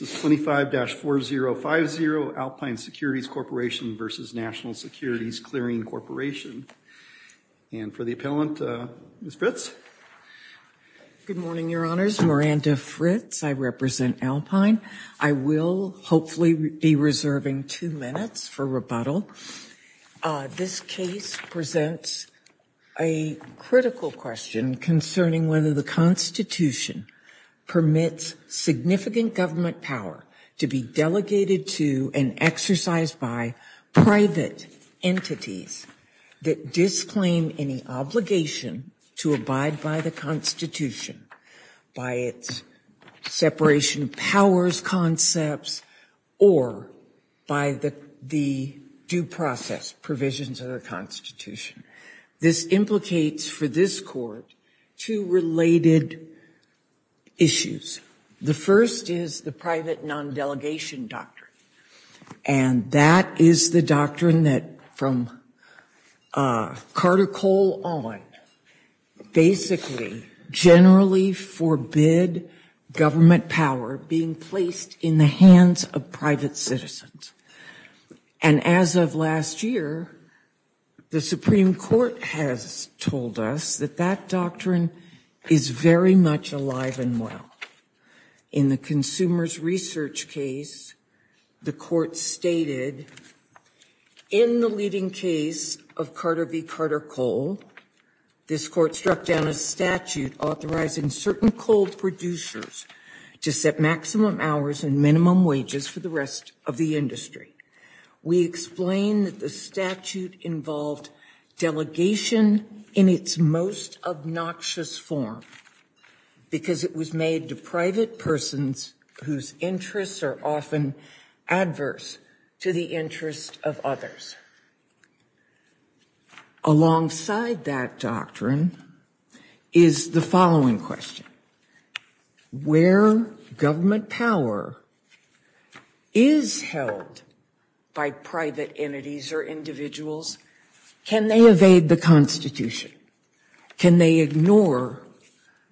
This is 25-4050, Alpine Securities Corporation v. National Securities Clearing Corporation. And for the appellant, Ms. Fritz. Good morning, Your Honors. Miranda Fritz. I represent Alpine. I will hopefully be reserving two minutes for rebuttal. This case presents a critical question concerning whether the Constitution permits significant government power to be delegated to and exercised by private entities that disclaim any obligation to abide by the Constitution, by its separation of powers concepts, or by the due process provisions of the Constitution. This implicates for this Court two related issues. The first is the private non-delegation doctrine. And that is the doctrine that, from Carter Cole on, basically generally forbid government power being placed in the hands of private citizens. And as of last year, the Supreme Court has told us that that doctrine is very much alive and well. In the Consumers Research case, the Court stated, in the leading case of Carter v. Carter Cole, this Court struck down a statute authorizing certain coal producers to set maximum hours and minimum wages for the rest of the industry. We explain that the statute involved delegation in its most obnoxious form, because it was made to private persons whose interests are often adverse to the interests of others. Alongside that doctrine is the following question. Where government power is held by private entities or individuals, can they evade the Can they ignore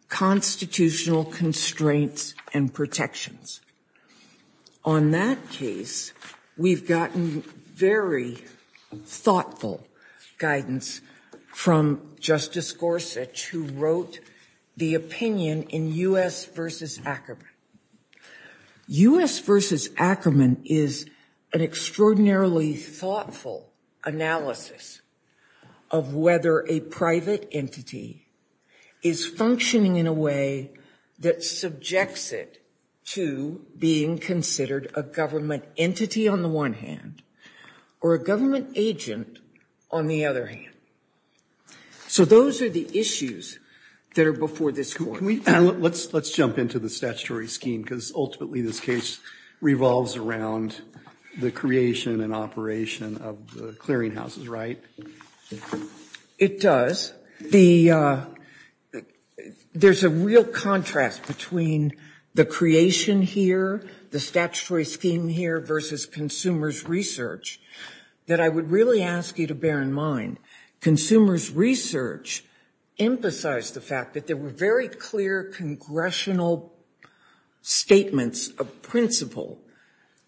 constitutional constraints and protections? On that case, we've gotten very thoughtful guidance from Justice Gorsuch, who wrote the opinion in U.S. v. Ackerman. U.S. v. Ackerman is an extraordinarily thoughtful analysis of whether a private entity is functioning in a way that subjects it to being considered a government entity on the one hand, or a government agent on the other hand. So those are the issues that are before this Court. Let's jump into the statutory scheme, because ultimately this case revolves around the creation and operation of the clearinghouses, right? It does. There's a real contrast between the creation here, the statutory scheme here, versus consumers' research that I would really ask you to bear in mind. Consumers' research emphasized the fact that there were very clear congressional statements of principle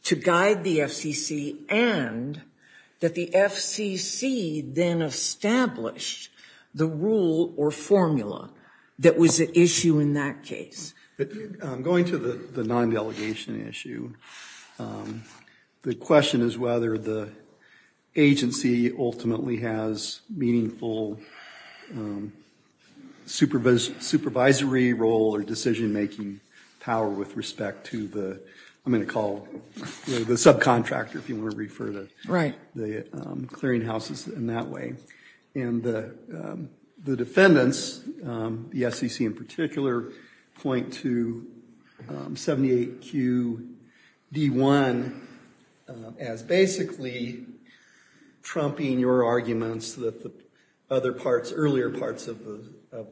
to guide the FCC, and that the FCC then established the rule or formula that was at issue in that case. Going to the non-delegation issue, the question is whether the agency ultimately has meaningful supervisory role or decision-making power with respect to the, I'm going to call the subcontractor if you want to refer to the clearinghouses in that way. And the defendants, the FCC in particular, point to 78QD1 as basically trumping your arguments that the earlier parts of the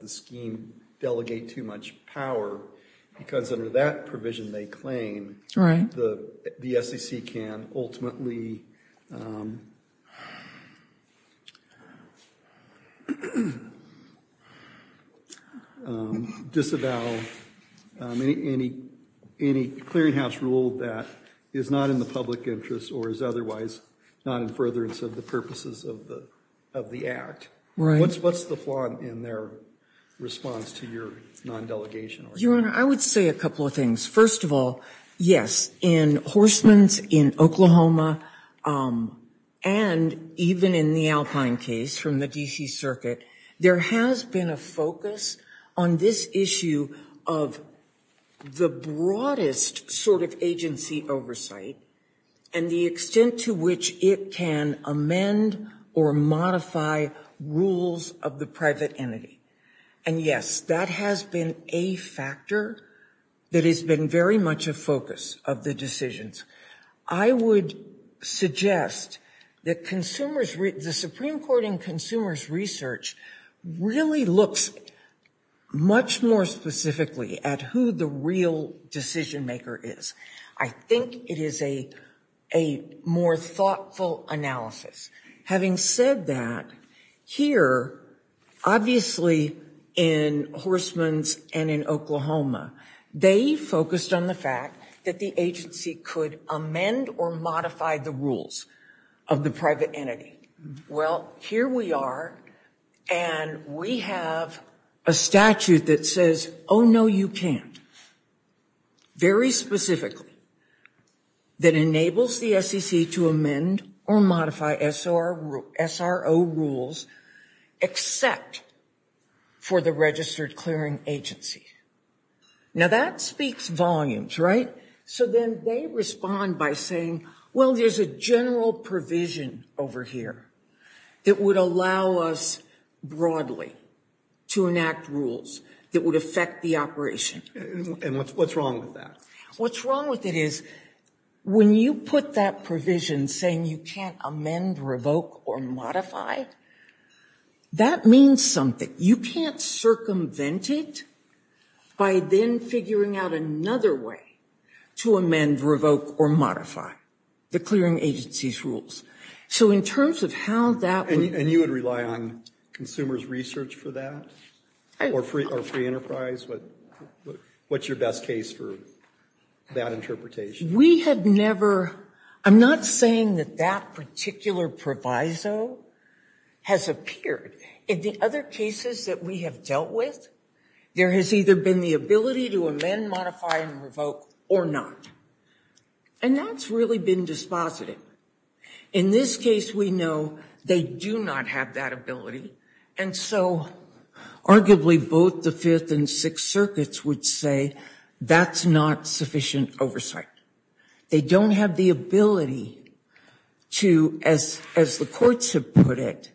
scheme delegate too much power, because under that provision they claim, the FCC can ultimately disavow any clearinghouse rule that is not in the public interest or is otherwise not in furtherance of the purposes of the act. What's the flaw in their response to your non-delegation argument? Your Honor, I would say a couple of things. First of all, yes, in Horstman's, in Oklahoma, and even in the Alpine case from the D.C. Circuit, there has been a focus on this issue of the broadest sort of agency oversight and the extent to which it can amend or modify rules of the private entity. And yes, that has been a factor that has been very much a focus of the decisions. I would suggest that the Supreme Court in consumers' research really looks much more specifically at who the real decision-maker is. I think it is a more thoughtful analysis. Having said that, here, obviously in Horstman's and in Oklahoma, they focused on the fact that the agency could amend or modify the rules of the private entity. Well, here we are, and we have a statute that says, oh, no, you can't. Very specifically, that enables the SEC to amend or modify SRO rules except for the registered clearing agency. Now, that speaks volumes, right? So then they respond by saying, well, there's a general provision over here that would allow us broadly to enact rules that would affect the operation. And what's wrong with that? What's wrong with it is when you put that provision saying you can't amend, revoke, or modify, that means something. You can't circumvent it by then figuring out another way to amend, revoke, or modify the clearing agency's rules. And you would rely on consumers' research for that? Or free enterprise? What's your best case for that interpretation? I'm not saying that that particular proviso has appeared. In the other cases that we have dealt with, there has either been the ability to amend, modify, and revoke, or not. And that's really been dispositive. In this case, we know they do not have that ability. And so, arguably, both the Fifth and Sixth Circuits would say that's not sufficient oversight. They don't have the ability to, as the courts have put it,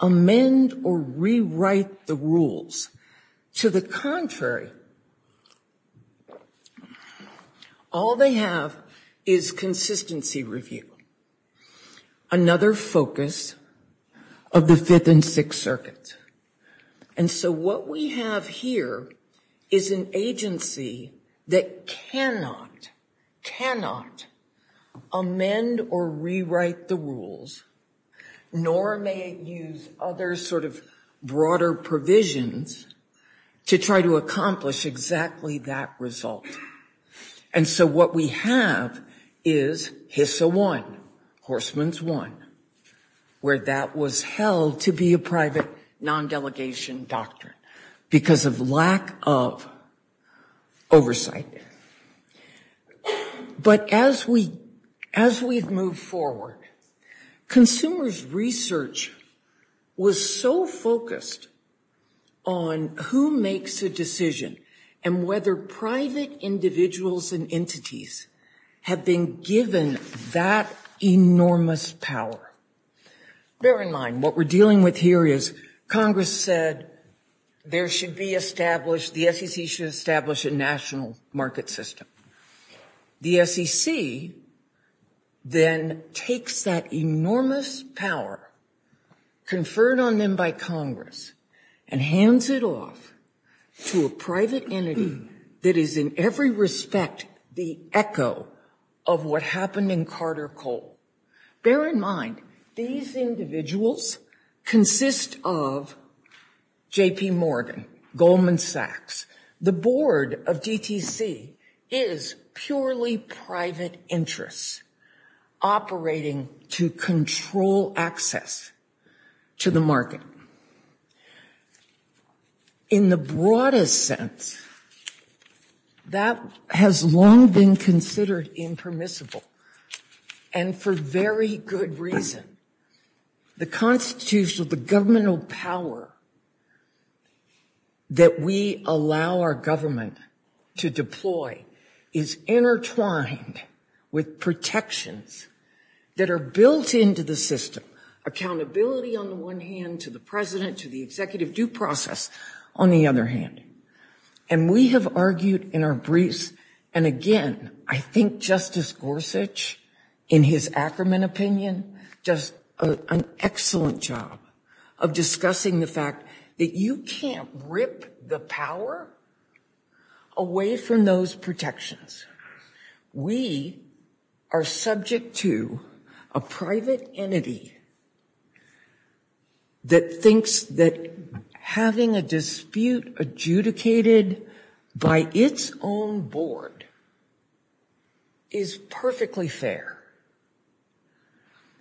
amend or rewrite the rules. To the contrary, all they have is consistency review, another focus of the Fifth and Sixth Circuits. And so what we have here is an agency that cannot, cannot amend or rewrite the rules, nor may it use other sort of broader provisions to try to accomplish exactly that result. And so what we have is HISA 1, Horstman's 1, where that was held to be a private, non-delegation doctrine because of lack of oversight. But as we've moved forward, consumers' research was so focused on who makes a decision and whether private individuals and entities have been given that enormous power. Bear in mind, what we're dealing with here is Congress said there should be established, the SEC should establish a national market system. The SEC then takes that enormous power conferred on them by Congress and hands it off to a private entity that is in every respect the echo of what happened in Carter Cole. Bear in mind, these individuals consist of J.P. Morgan, Goldman Sachs. The board of DTC is purely private interests operating to control access to the market. In the broadest sense, that has long been considered impermissible and for very good reason. The constitutional, the governmental power that we allow our government to deploy is intertwined with protections that are built into the system. Accountability on the one hand to the president, to the executive due process on the other hand. And we have argued in our briefs, and again, I think Justice Gorsuch in his Ackerman opinion, does an excellent job of discussing the fact that you can't rip the power away from those protections. We are subject to a private entity that thinks that having a dispute adjudicated by its own board is perfectly fair.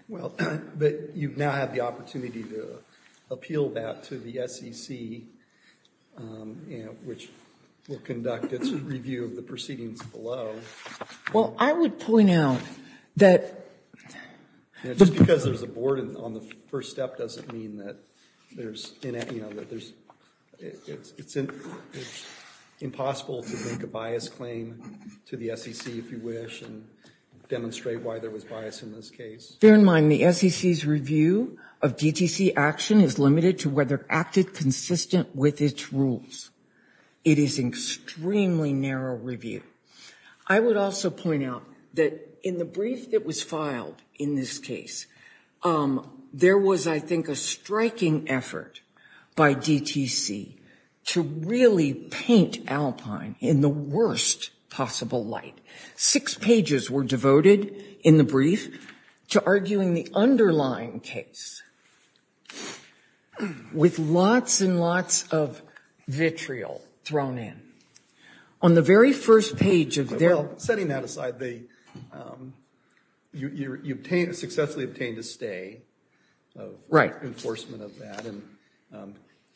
Well, but you now have the opportunity to appeal that to the SEC, which will conduct its review of the proceedings below. Well, I would point out that... Just because there's a board on the first step doesn't mean that there's... It's impossible to make a bias claim to the SEC, if you wish, and demonstrate why there was bias in this case. Bear in mind the SEC's review of DTC action is limited to whether it acted consistent with its rules. It is an extremely narrow review. I would also point out that in the brief that was filed in this case, there was, I think, a striking effort by DTC to really paint Alpine in the worst possible light. Six pages were devoted in the brief to arguing the underlying case with lots and lots of vitriol thrown in. On the very first page of their... Setting that aside, you successfully obtained a stay of enforcement of that.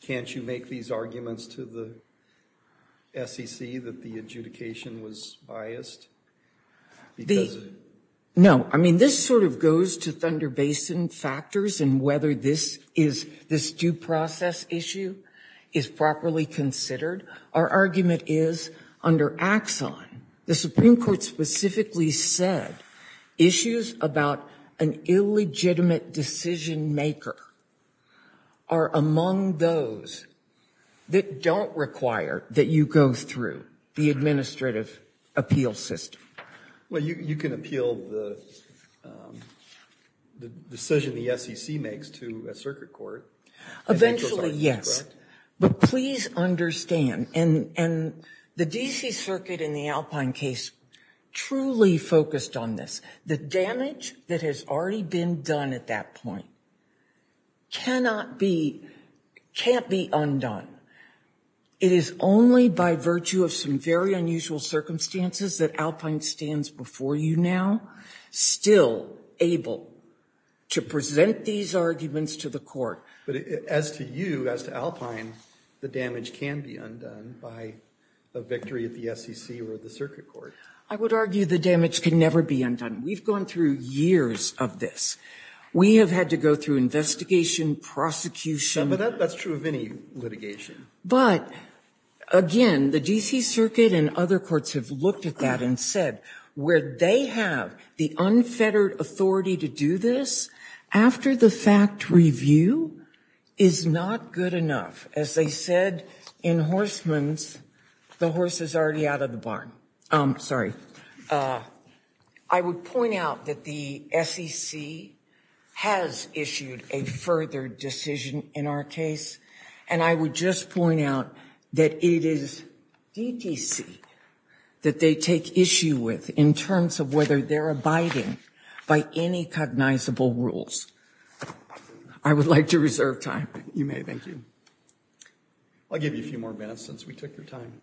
Can't you make these arguments to the SEC that the adjudication was biased? No. I mean, this sort of goes to Thunder Basin factors and whether this due process issue is properly considered. Our argument is, under Axon, the Supreme Court specifically said issues about an illegitimate decision maker are among those that don't require that you go through the administrative appeal system. Well, you can appeal the decision the SEC makes to a circuit court. Eventually, yes. But please understand, and the D.C. Circuit in the Alpine case truly focused on this. The damage that has already been done at that point cannot be undone. It is only by virtue of some very unusual circumstances that Alpine stands before you now still able to present these arguments to the court. But as to you, as to Alpine, the damage can be undone by a victory at the SEC or the circuit court. I would argue the damage can never be undone. We've gone through years of this. We have had to go through investigation, prosecution... That's true of any litigation. But, again, the D.C. Circuit and other courts have looked at that and said where they have the unfettered authority to do this after the fact review is not good enough. As they said in Horstman's, the horse is already out of the barn. Sorry. I would point out that the SEC has issued a further decision in our case. And I would just point out that it is DTC that they take issue with in terms of whether they're abiding by any cognizable rules. I would like to reserve time. You may. Thank you. I'll give you a few more minutes since we took your time.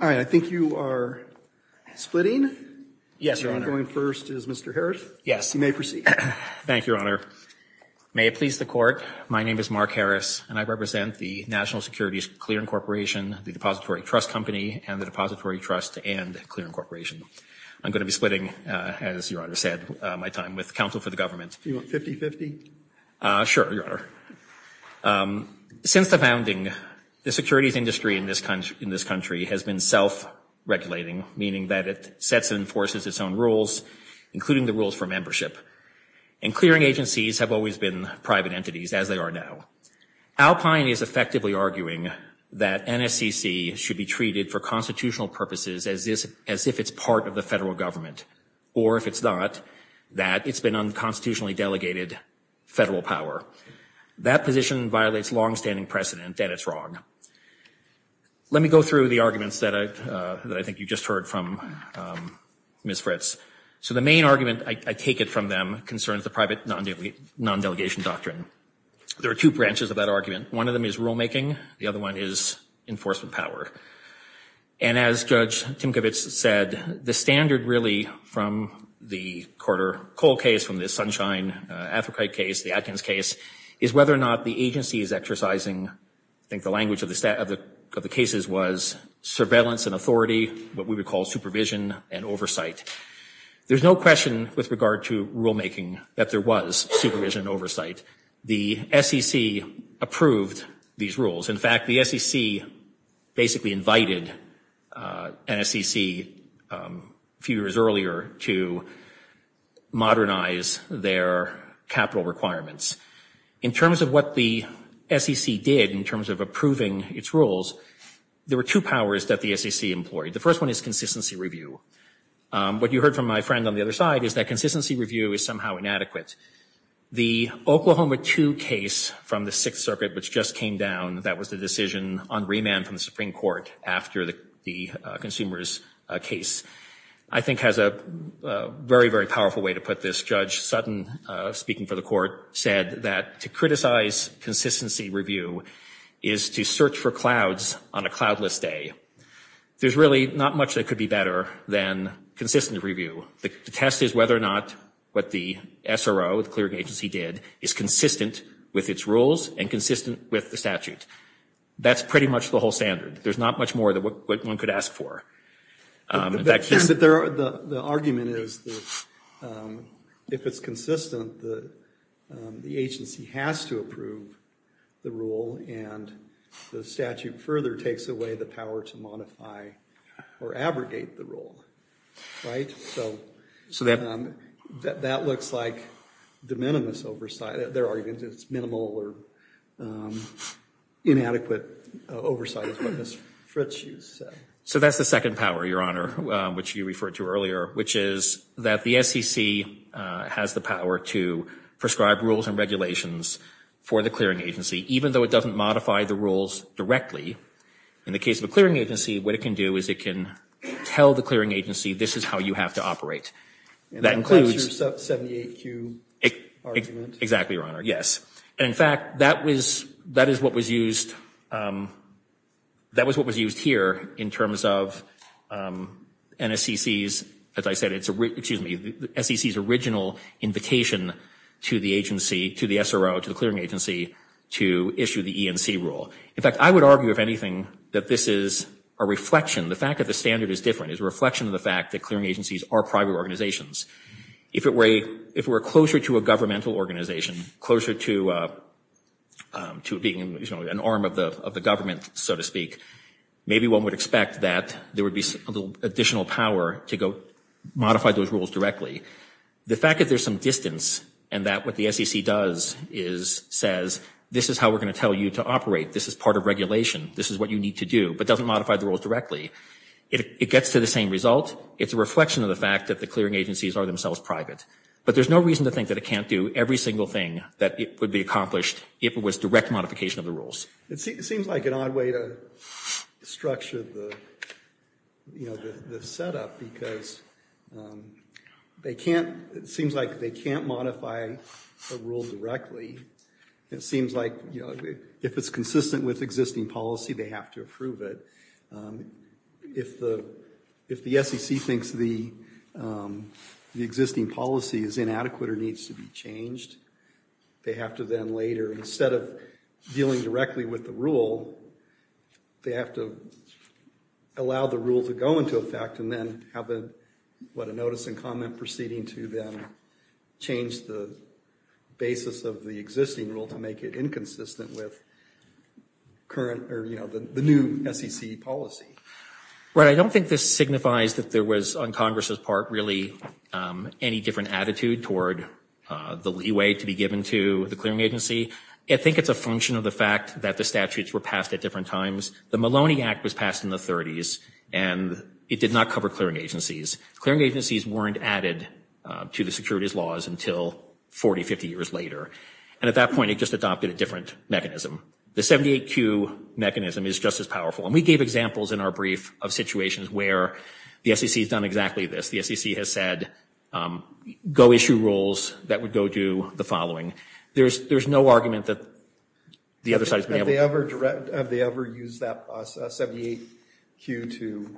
All right. I think you are splitting. Yes, Your Honor. Going first is Mr. Harris. Yes. You may proceed. Thank you, Your Honor. May it please the Court, my name is Mark Harris. And I represent the National Securities Clearing Corporation, the Depository Trust Company, and the Depository Trust and Clearing Corporation. I'm going to be splitting, as Your Honor said, my time with counsel for the government. Do you want 50-50? Sure, Your Honor. Since the founding, the securities industry in this country has been self-regulating, meaning that it sets and enforces its own rules, including the rules for membership. And clearing agencies have always been private entities, as they are now. Alpine is effectively arguing that NSCC should be treated for constitutional purposes as if it's part of the federal government, or if it's not, that it's been unconstitutionally delegated federal power. That position violates longstanding precedent, and it's wrong. Let me go through the arguments that I think you just heard from Ms. Fritz. So the main argument, I take it from them, concerns the private non-delegation doctrine. There are two branches of that argument. One of them is rulemaking. The other one is enforcement power. And as Judge Timkovitz said, the standard really from the Carter-Cole case, from the Sunshine-Athrokite case, the Atkins case, is whether or not the agency is exercising, I think the language of the cases was surveillance and authority, what we would call supervision and oversight. There's no question with regard to rulemaking that there was supervision and oversight. The SEC approved these rules. In fact, the SEC basically invited NSCC a few years earlier to modernize their capital requirements. In terms of what the SEC did in terms of approving its rules, there were two powers that the SEC employed. The first one is consistency review. What you heard from my friend on the other side is that consistency review is somehow inadequate. The Oklahoma 2 case from the Sixth Circuit, which just came down, that was the decision on remand from the Supreme Court after the consumers case, I think has a very, very powerful way to put this. Judge Sutton, speaking for the court, said that to criticize consistency review is to search for clouds on a cloudless day. There's really not much that could be better than consistent review. The test is whether or not what the SRO, the clearing agency, did is consistent with its rules and consistent with the statute. That's pretty much the whole standard. There's not much more that one could ask for. The argument is that if it's consistent, the agency has to approve the rule, and the statute further takes away the power to modify or abrogate the rule, right? So that looks like the minimus oversight. It's minimal or inadequate oversight is what Ms. Fritsch said. So that's the second power, Your Honor, which you referred to earlier, which is that the SEC has the power to prescribe rules and regulations for the clearing agency, even though it doesn't modify the rules directly. In the case of a clearing agency, what it can do is it can tell the clearing agency this is how you have to operate. And that includes your 78Q argument? Exactly, Your Honor, yes. And, in fact, that is what was used here in terms of SEC's original invitation to the agency, to the SRO, to the clearing agency, to issue the E&C rule. In fact, I would argue, if anything, that this is a reflection. The fact that the standard is different is a reflection of the fact that clearing agencies are private organizations. If it were closer to a governmental organization, closer to being an arm of the government, so to speak, maybe one would expect that there would be additional power to go modify those rules directly. The fact that there's some distance and that what the SEC does is, says, this is how we're going to tell you to operate, this is part of regulation, this is what you need to do, but doesn't modify the rules directly, it gets to the same result. It's a reflection of the fact that the clearing agencies are themselves private. But there's no reason to think that it can't do every single thing that it would be accomplished if it was direct modification of the rules. It seems like an odd way to structure the, you know, the setup because they can't, it seems like they can't modify a rule directly. It seems like, you know, if it's consistent with existing policy, they have to approve it. If the SEC thinks the existing policy is inadequate or needs to be changed, they have to then later, instead of dealing directly with the rule, they have to allow the rule to go into effect and then have a notice and comment proceeding to then change the basis of the existing rule to make it inconsistent with current, or you know, the new SEC policy. Right, I don't think this signifies that there was, on Congress's part, really any different attitude toward the leeway to be given to the clearing agency. I think it's a function of the fact that the statutes were passed at different times. The Maloney Act was passed in the 30s and it did not cover clearing agencies. Clearing agencies weren't added to the securities laws until 40, 50 years later. And at that point, it just adopted a different mechanism. The 78Q mechanism is just as powerful. And we gave examples in our brief of situations where the SEC has done exactly this. The SEC has said, go issue rules that would go do the following. There's no argument that the other side has been able to. Have they ever used that 78Q to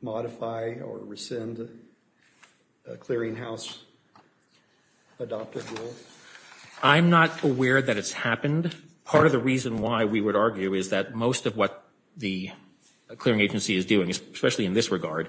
modify or rescind a clearing house adopted rule? I'm not aware that it's happened. Part of the reason why we would argue is that most of what the clearing agency is doing, especially in this regard,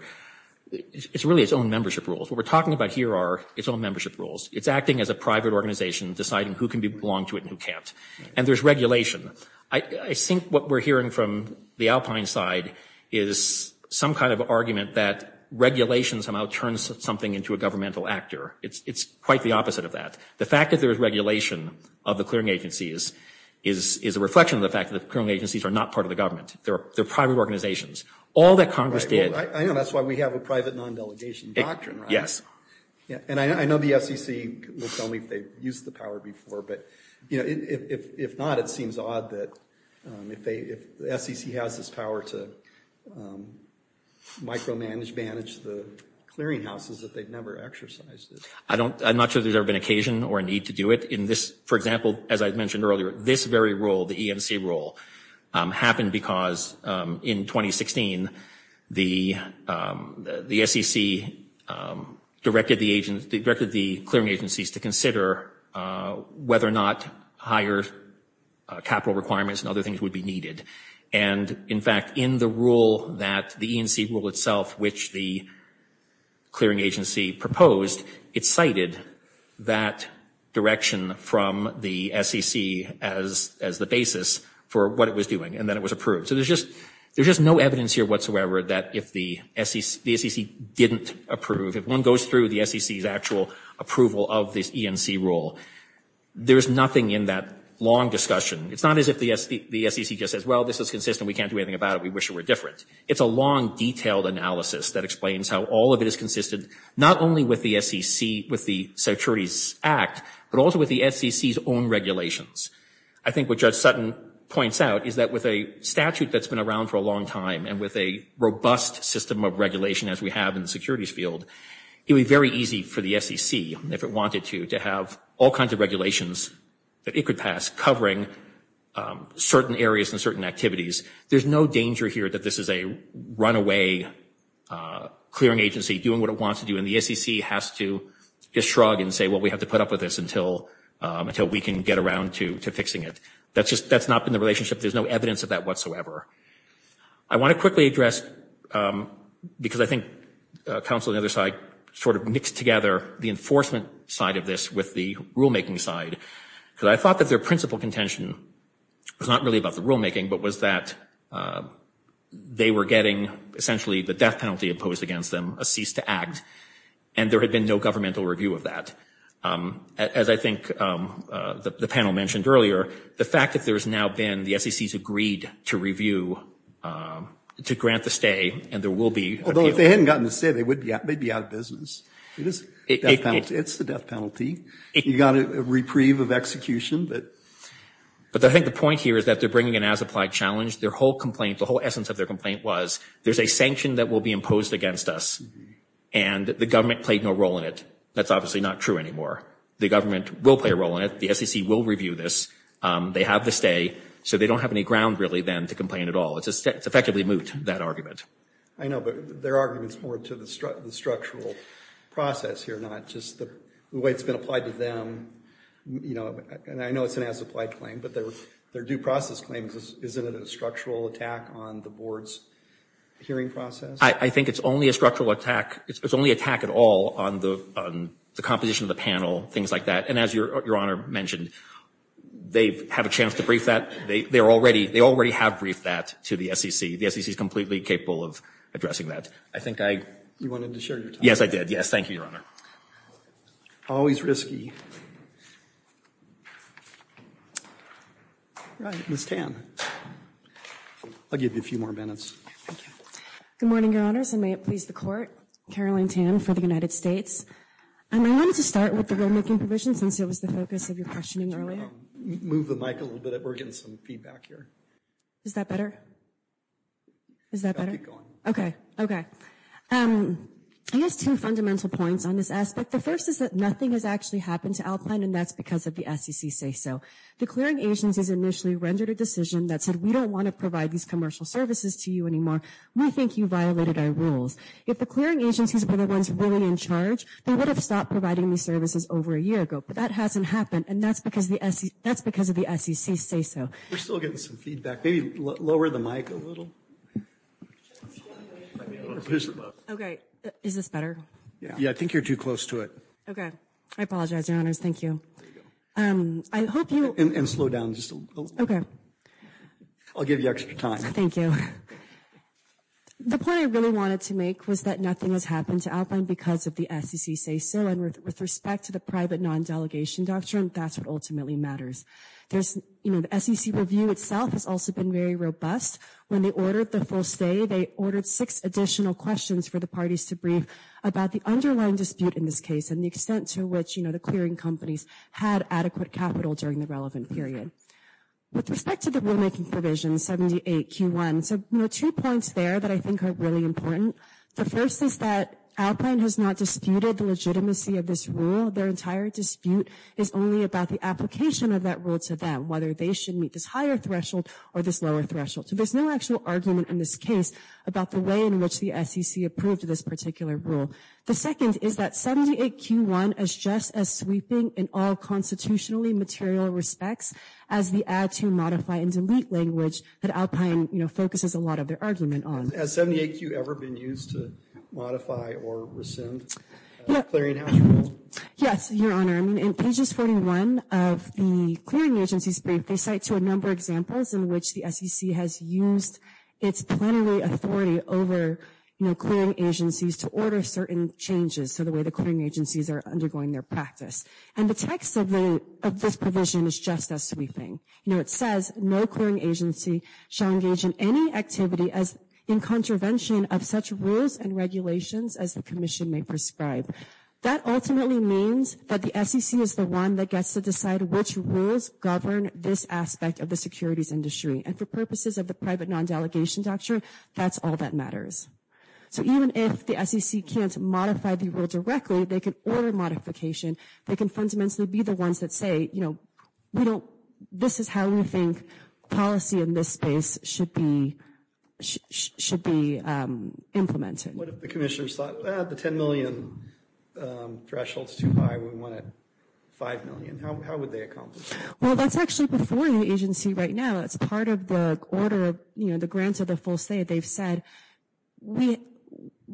it's really its own membership rules. What we're talking about here are its own membership rules. It's acting as a private organization deciding who can belong to it and who can't. And there's regulation. I think what we're hearing from the Alpine side is some kind of argument that regulation somehow turns something into a governmental actor. It's quite the opposite of that. The fact that there's regulation of the clearing agencies is a reflection of the fact that the clearing agencies are not part of the government. They're private organizations. All that Congress did – I know that's why we have a private non-delegation doctrine, right? Yes. And I know the SEC will tell me if they've used the power before, but if not, it seems odd that if the SEC has this power to micromanage, manage the clearing houses, that they've never exercised it. I'm not sure there's ever been occasion or a need to do it. For example, as I mentioned earlier, this very rule, the EMC rule, happened because in 2016 the SEC directed the clearing agencies to consider whether or not higher capital requirements and other things would be needed. And, in fact, in the rule that the EMC rule itself, which the clearing agency proposed, it cited that direction from the SEC as the basis for what it was doing, and then it was approved. So there's just no evidence here whatsoever that if the SEC didn't approve, if one goes through the SEC's actual approval of this EMC rule, there's nothing in that long discussion. It's not as if the SEC just says, well, this is consistent. We can't do anything about it. We wish it were different. It's a long, detailed analysis that explains how all of it is consistent, not only with the SEC, with the Securities Act, but also with the SEC's own regulations. I think what Judge Sutton points out is that with a statute that's been around for a long time and with a robust system of regulation as we have in the securities field, it would be very easy for the SEC, if it wanted to, to have all kinds of regulations that it could pass covering certain areas and certain activities. There's no danger here that this is a runaway clearing agency doing what it wants to do, and the SEC has to just shrug and say, well, we have to put up with this until we can get around to fixing it. That's not been the relationship. There's no evidence of that whatsoever. I want to quickly address, because I think counsel on the other side sort of mixed together the enforcement side of this with the rulemaking side, because I thought that their principal contention was not really about the rulemaking but was that they were getting essentially the death penalty imposed against them, a cease to act, and there had been no governmental review of that. As I think the panel mentioned earlier, the fact that there's now been the SEC's agreed to review, to grant the stay, and there will be appeal. Although if they hadn't gotten the stay, they'd be out of business. It's the death penalty. You've got a reprieve of execution. But I think the point here is that they're bringing an as-applied challenge. Their whole complaint, the whole essence of their complaint was there's a sanction that will be imposed against us, and the government played no role in it. That's obviously not true anymore. The government will play a role in it. The SEC will review this. They have the stay, so they don't have any ground really then to complain at all. It's effectively moot, that argument. I know, but their argument's more to the structural process here, not just the way it's been applied to them. And I know it's an as-applied claim, but their due process claim, isn't it a structural attack on the board's hearing process? I think it's only a structural attack. It's only attack at all on the composition of the panel, things like that. And as Your Honor mentioned, they have a chance to brief that. They already have briefed that to the SEC. The SEC's completely capable of addressing that. I think I— You wanted to share your time. Yes, I did. Yes, thank you, Your Honor. Always risky. All right, Ms. Tan. I'll give you a few more minutes. Thank you. Good morning, Your Honors, and may it please the Court. Caroline Tan for the United States. And I wanted to start with the rulemaking provisions since it was the focus of your questioning earlier. Move the mic a little bit. We're getting some feedback here. Is that better? Is that better? Keep going. Okay, okay. I guess two fundamental points on this aspect. The first is that nothing has actually happened to Alpine, and that's because of the SEC's say-so. The clearing agencies initially rendered a decision that said, we don't want to provide these commercial services to you anymore. We think you violated our rules. If the clearing agencies were the ones really in charge, they would have stopped providing these services over a year ago. But that hasn't happened, and that's because of the SEC's say-so. We're still getting some feedback. Maybe lower the mic a little. Okay. Is this better? Yeah, I think you're too close to it. Okay. I apologize, Your Honors. Thank you. And slow down just a little. Okay. I'll give you extra time. Thank you. The point I really wanted to make was that nothing has happened to Alpine because of the SEC's say-so, and with respect to the private non-delegation doctrine, that's what ultimately matters. The SEC review itself has also been very robust. When they ordered the full stay, they ordered six additional questions for the parties to brief about the underlying dispute in this case and the extent to which the clearing companies had adequate capital during the relevant period. With respect to the rulemaking provisions, 78Q1, there are two points there that I think are really important. The first is that Alpine has not disputed the legitimacy of this rule. Their entire dispute is only about the application of that rule to them, whether they should meet this higher threshold or this lower threshold. So there's no actual argument in this case about the way in which the SEC approved this particular rule. The second is that 78Q1 is just as sweeping in all constitutionally material respects as the add, to, modify, and delete language that Alpine focuses a lot of their argument on. Has 78Q ever been used to modify or rescind a clearinghouse rule? Yes, Your Honor. I mean, in pages 41 of the clearing agency's brief, they cite to a number of examples in which the SEC has used its plenary authority over, you know, clearing agencies to order certain changes to the way the clearing agencies are undergoing their practice. And the text of this provision is just as sweeping. You know, it says, no clearing agency shall engage in any activity in contravention of such rules and regulations as the commission may prescribe. That ultimately means that the SEC is the one that gets to decide which rules govern this aspect of the securities industry. And for purposes of the private non-delegation doctrine, that's all that matters. So even if the SEC can't modify the rule directly, they can order modification. They can fundamentally be the ones that say, you know, this is how we think policy in this space should be implemented. What if the commissioners thought, ah, the $10 million threshold's too high. We want it $5 million. How would they accomplish that? Well, that's actually before the agency right now. That's part of the order of, you know, the grants of the full state. They've said, we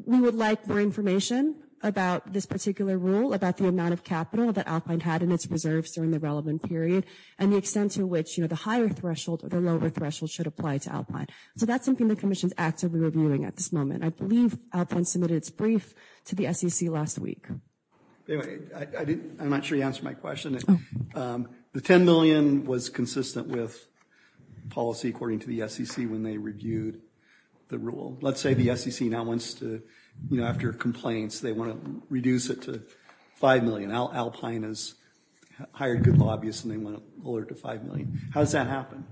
would like more information about this particular rule, about the amount of capital that Alpine had in its reserves during the relevant period and the extent to which, you know, the higher threshold or the lower threshold should apply to Alpine. So that's something the commission's actively reviewing at this moment. I believe Alpine submitted its brief to the SEC last week. Anyway, I'm not sure you answered my question. The $10 million was consistent with policy according to the SEC when they reviewed the rule. Let's say the SEC now wants to, you know, after complaints, they want to reduce it to $5 million. Alpine has hired good lobbyists and they want to lower it to $5 million. How does that happen?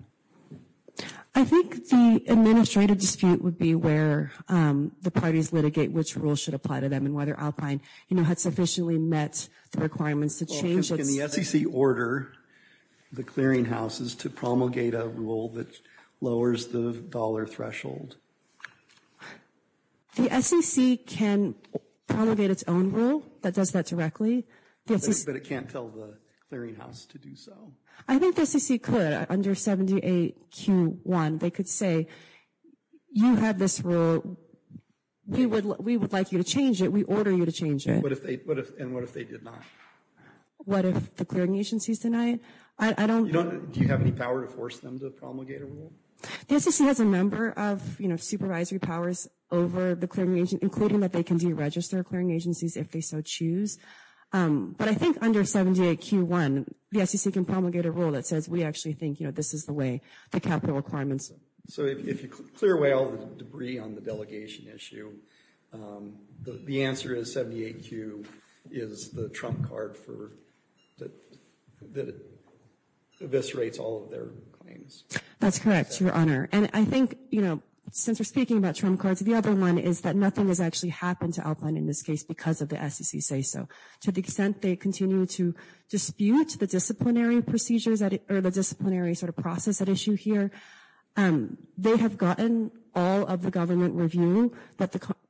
I think the administrative dispute would be where the parties litigate which rule should apply to them and whether Alpine, you know, had sufficiently met the requirements to change it. Can the SEC order the clearinghouses to promulgate a rule that lowers the dollar threshold? The SEC can promulgate its own rule that does that directly. But it can't tell the clearinghouse to do so. I think the SEC could under 78Q1. They could say you have this rule. We would like you to change it. We order you to change it. And what if they did not? What if the clearing agencies deny it? Do you have any power to force them to promulgate a rule? The SEC has a number of, you know, supervisory powers over the clearing agency, including that they can deregister clearing agencies if they so choose. But I think under 78Q1, the SEC can promulgate a rule that says we actually think, you know, this is the way the capital requirements. So if you clear away all the debris on the delegation issue, the answer is 78Q is the trump card that eviscerates all of their claims. That's correct, Your Honor. And I think, you know, since we're speaking about trump cards, the other one is that nothing has actually happened to Alpine in this case because of the SEC say so. To the extent they continue to dispute the disciplinary procedures or the disciplinary sort of process at issue here, they have gotten all of the government review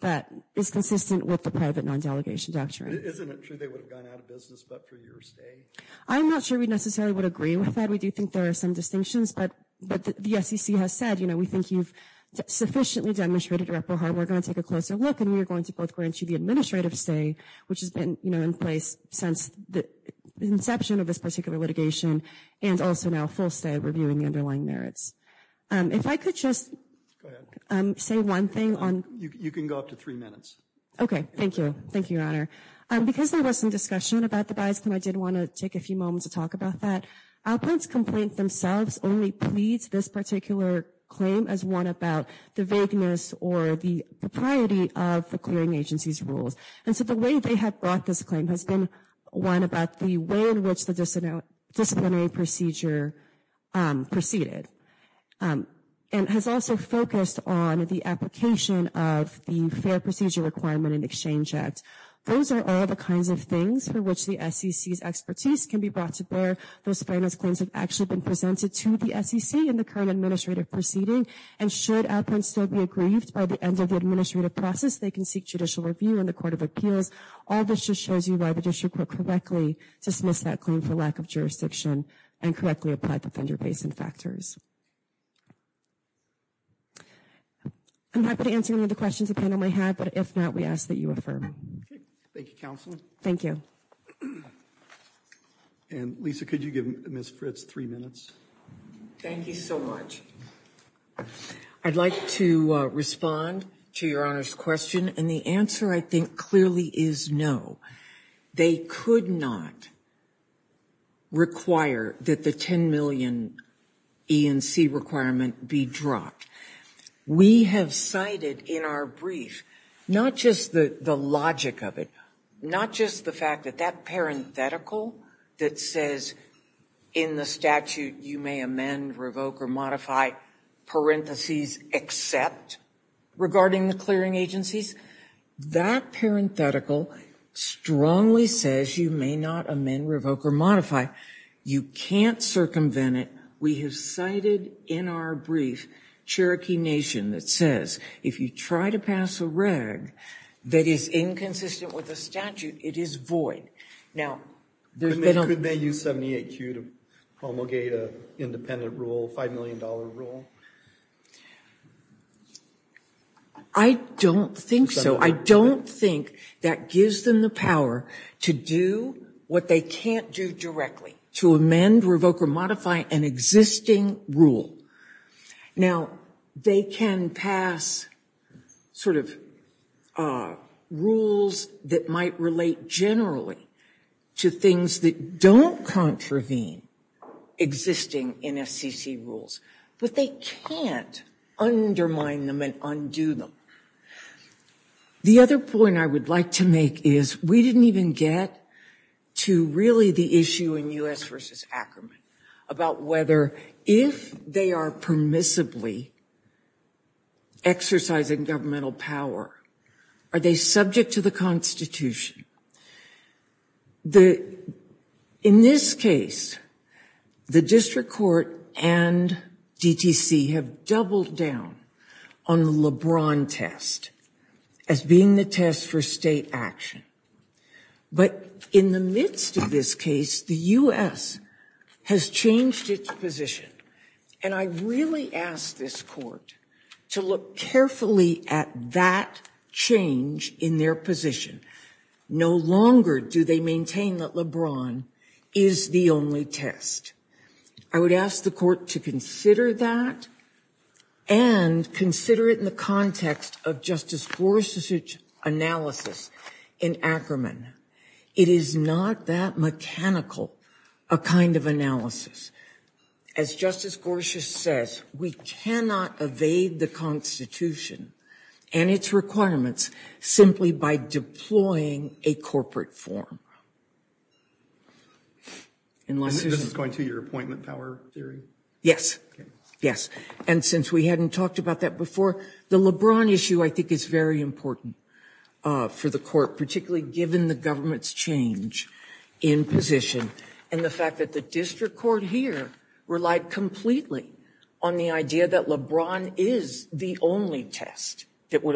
that is consistent with the private non-delegation doctrine. Isn't it true they would have gone out of business but for your sake? I'm not sure we necessarily would agree with that. We do think there are some distinctions. But the SEC has said, you know, we think you've sufficiently demonstrated your upper heart. We're going to take a closer look and we're going to both grant you the administrative stay, which has been in place since the inception of this particular litigation, and also now full stay of reviewing the underlying merits. If I could just say one thing. You can go up to three minutes. Okay. Thank you. Thank you, Your Honor. Because there was some discussion about the bias claim, I did want to take a few moments to talk about that. Appellant's complaint themselves only pleads this particular claim as one about the vagueness or the propriety of the clearing agency's rules. And so the way they have brought this claim has been one about the way in which the disciplinary procedure proceeded and has also focused on the application of the Fair Procedure Requirement and Exchange Act. Those are all the kinds of things for which the SEC's expertise can be brought to bear. Those finance claims have actually been presented to the SEC in the current administrative proceeding. And should Appellant still be aggrieved by the end of the administrative process, they can seek judicial review in the Court of Appeals. All this just shows you why the district court correctly dismissed that claim for lack of jurisdiction and correctly applied the Fender-Basin factors. I'm happy to answer any other questions the panel may have, but if not, we ask that you affirm. Okay. Thank you, Counsel. Thank you. And, Lisa, could you give Ms. Fritz three minutes? Thank you so much. I'd like to respond to Your Honor's question, and the answer, I think, clearly is no. They could not require that the 10 million E&C requirement be dropped. We have cited in our brief not just the logic of it, not just the fact that that parenthetical that says, in the statute, you may amend, revoke, or modify, parentheses, except regarding the clearing agencies. That parenthetical strongly says you may not amend, revoke, or modify. You can't circumvent it. We have cited in our brief Cherokee Nation that says if you try to pass a reg that is inconsistent with the statute, it is void. Could they use 78Q to promulgate an independent rule, a $5 million rule? I don't think so. I don't think that gives them the power to do what they can't do directly, to amend, revoke, or modify an existing rule. Now, they can pass sort of rules that might relate generally, to things that don't contravene existing NFCC rules, but they can't undermine them and undo them. The other point I would like to make is we didn't even get to really the issue in U.S. v. Ackerman about whether if they are permissibly exercising governmental power, are they subject to the Constitution. In this case, the district court and DTC have doubled down on the LeBron test as being the test for state action. But in the midst of this case, the U.S. has changed its position, and I really ask this court to look carefully at that change in their position. No longer do they maintain that LeBron is the only test. I would ask the court to consider that, and consider it in the context of Justice Gorsuch's analysis in Ackerman. It is not that mechanical a kind of analysis. As Justice Gorsuch says, we cannot evade the Constitution, and it's required that we do. We cannot evade the Constitution, and we cannot evade the constitutional requirements simply by deploying a corporate form. And since we hadn't talked about that before, the LeBron issue I think is very important for the court, particularly given the government's change in position, and the fact that the district court here relied completely on the idea that LeBron is the only test that would apply.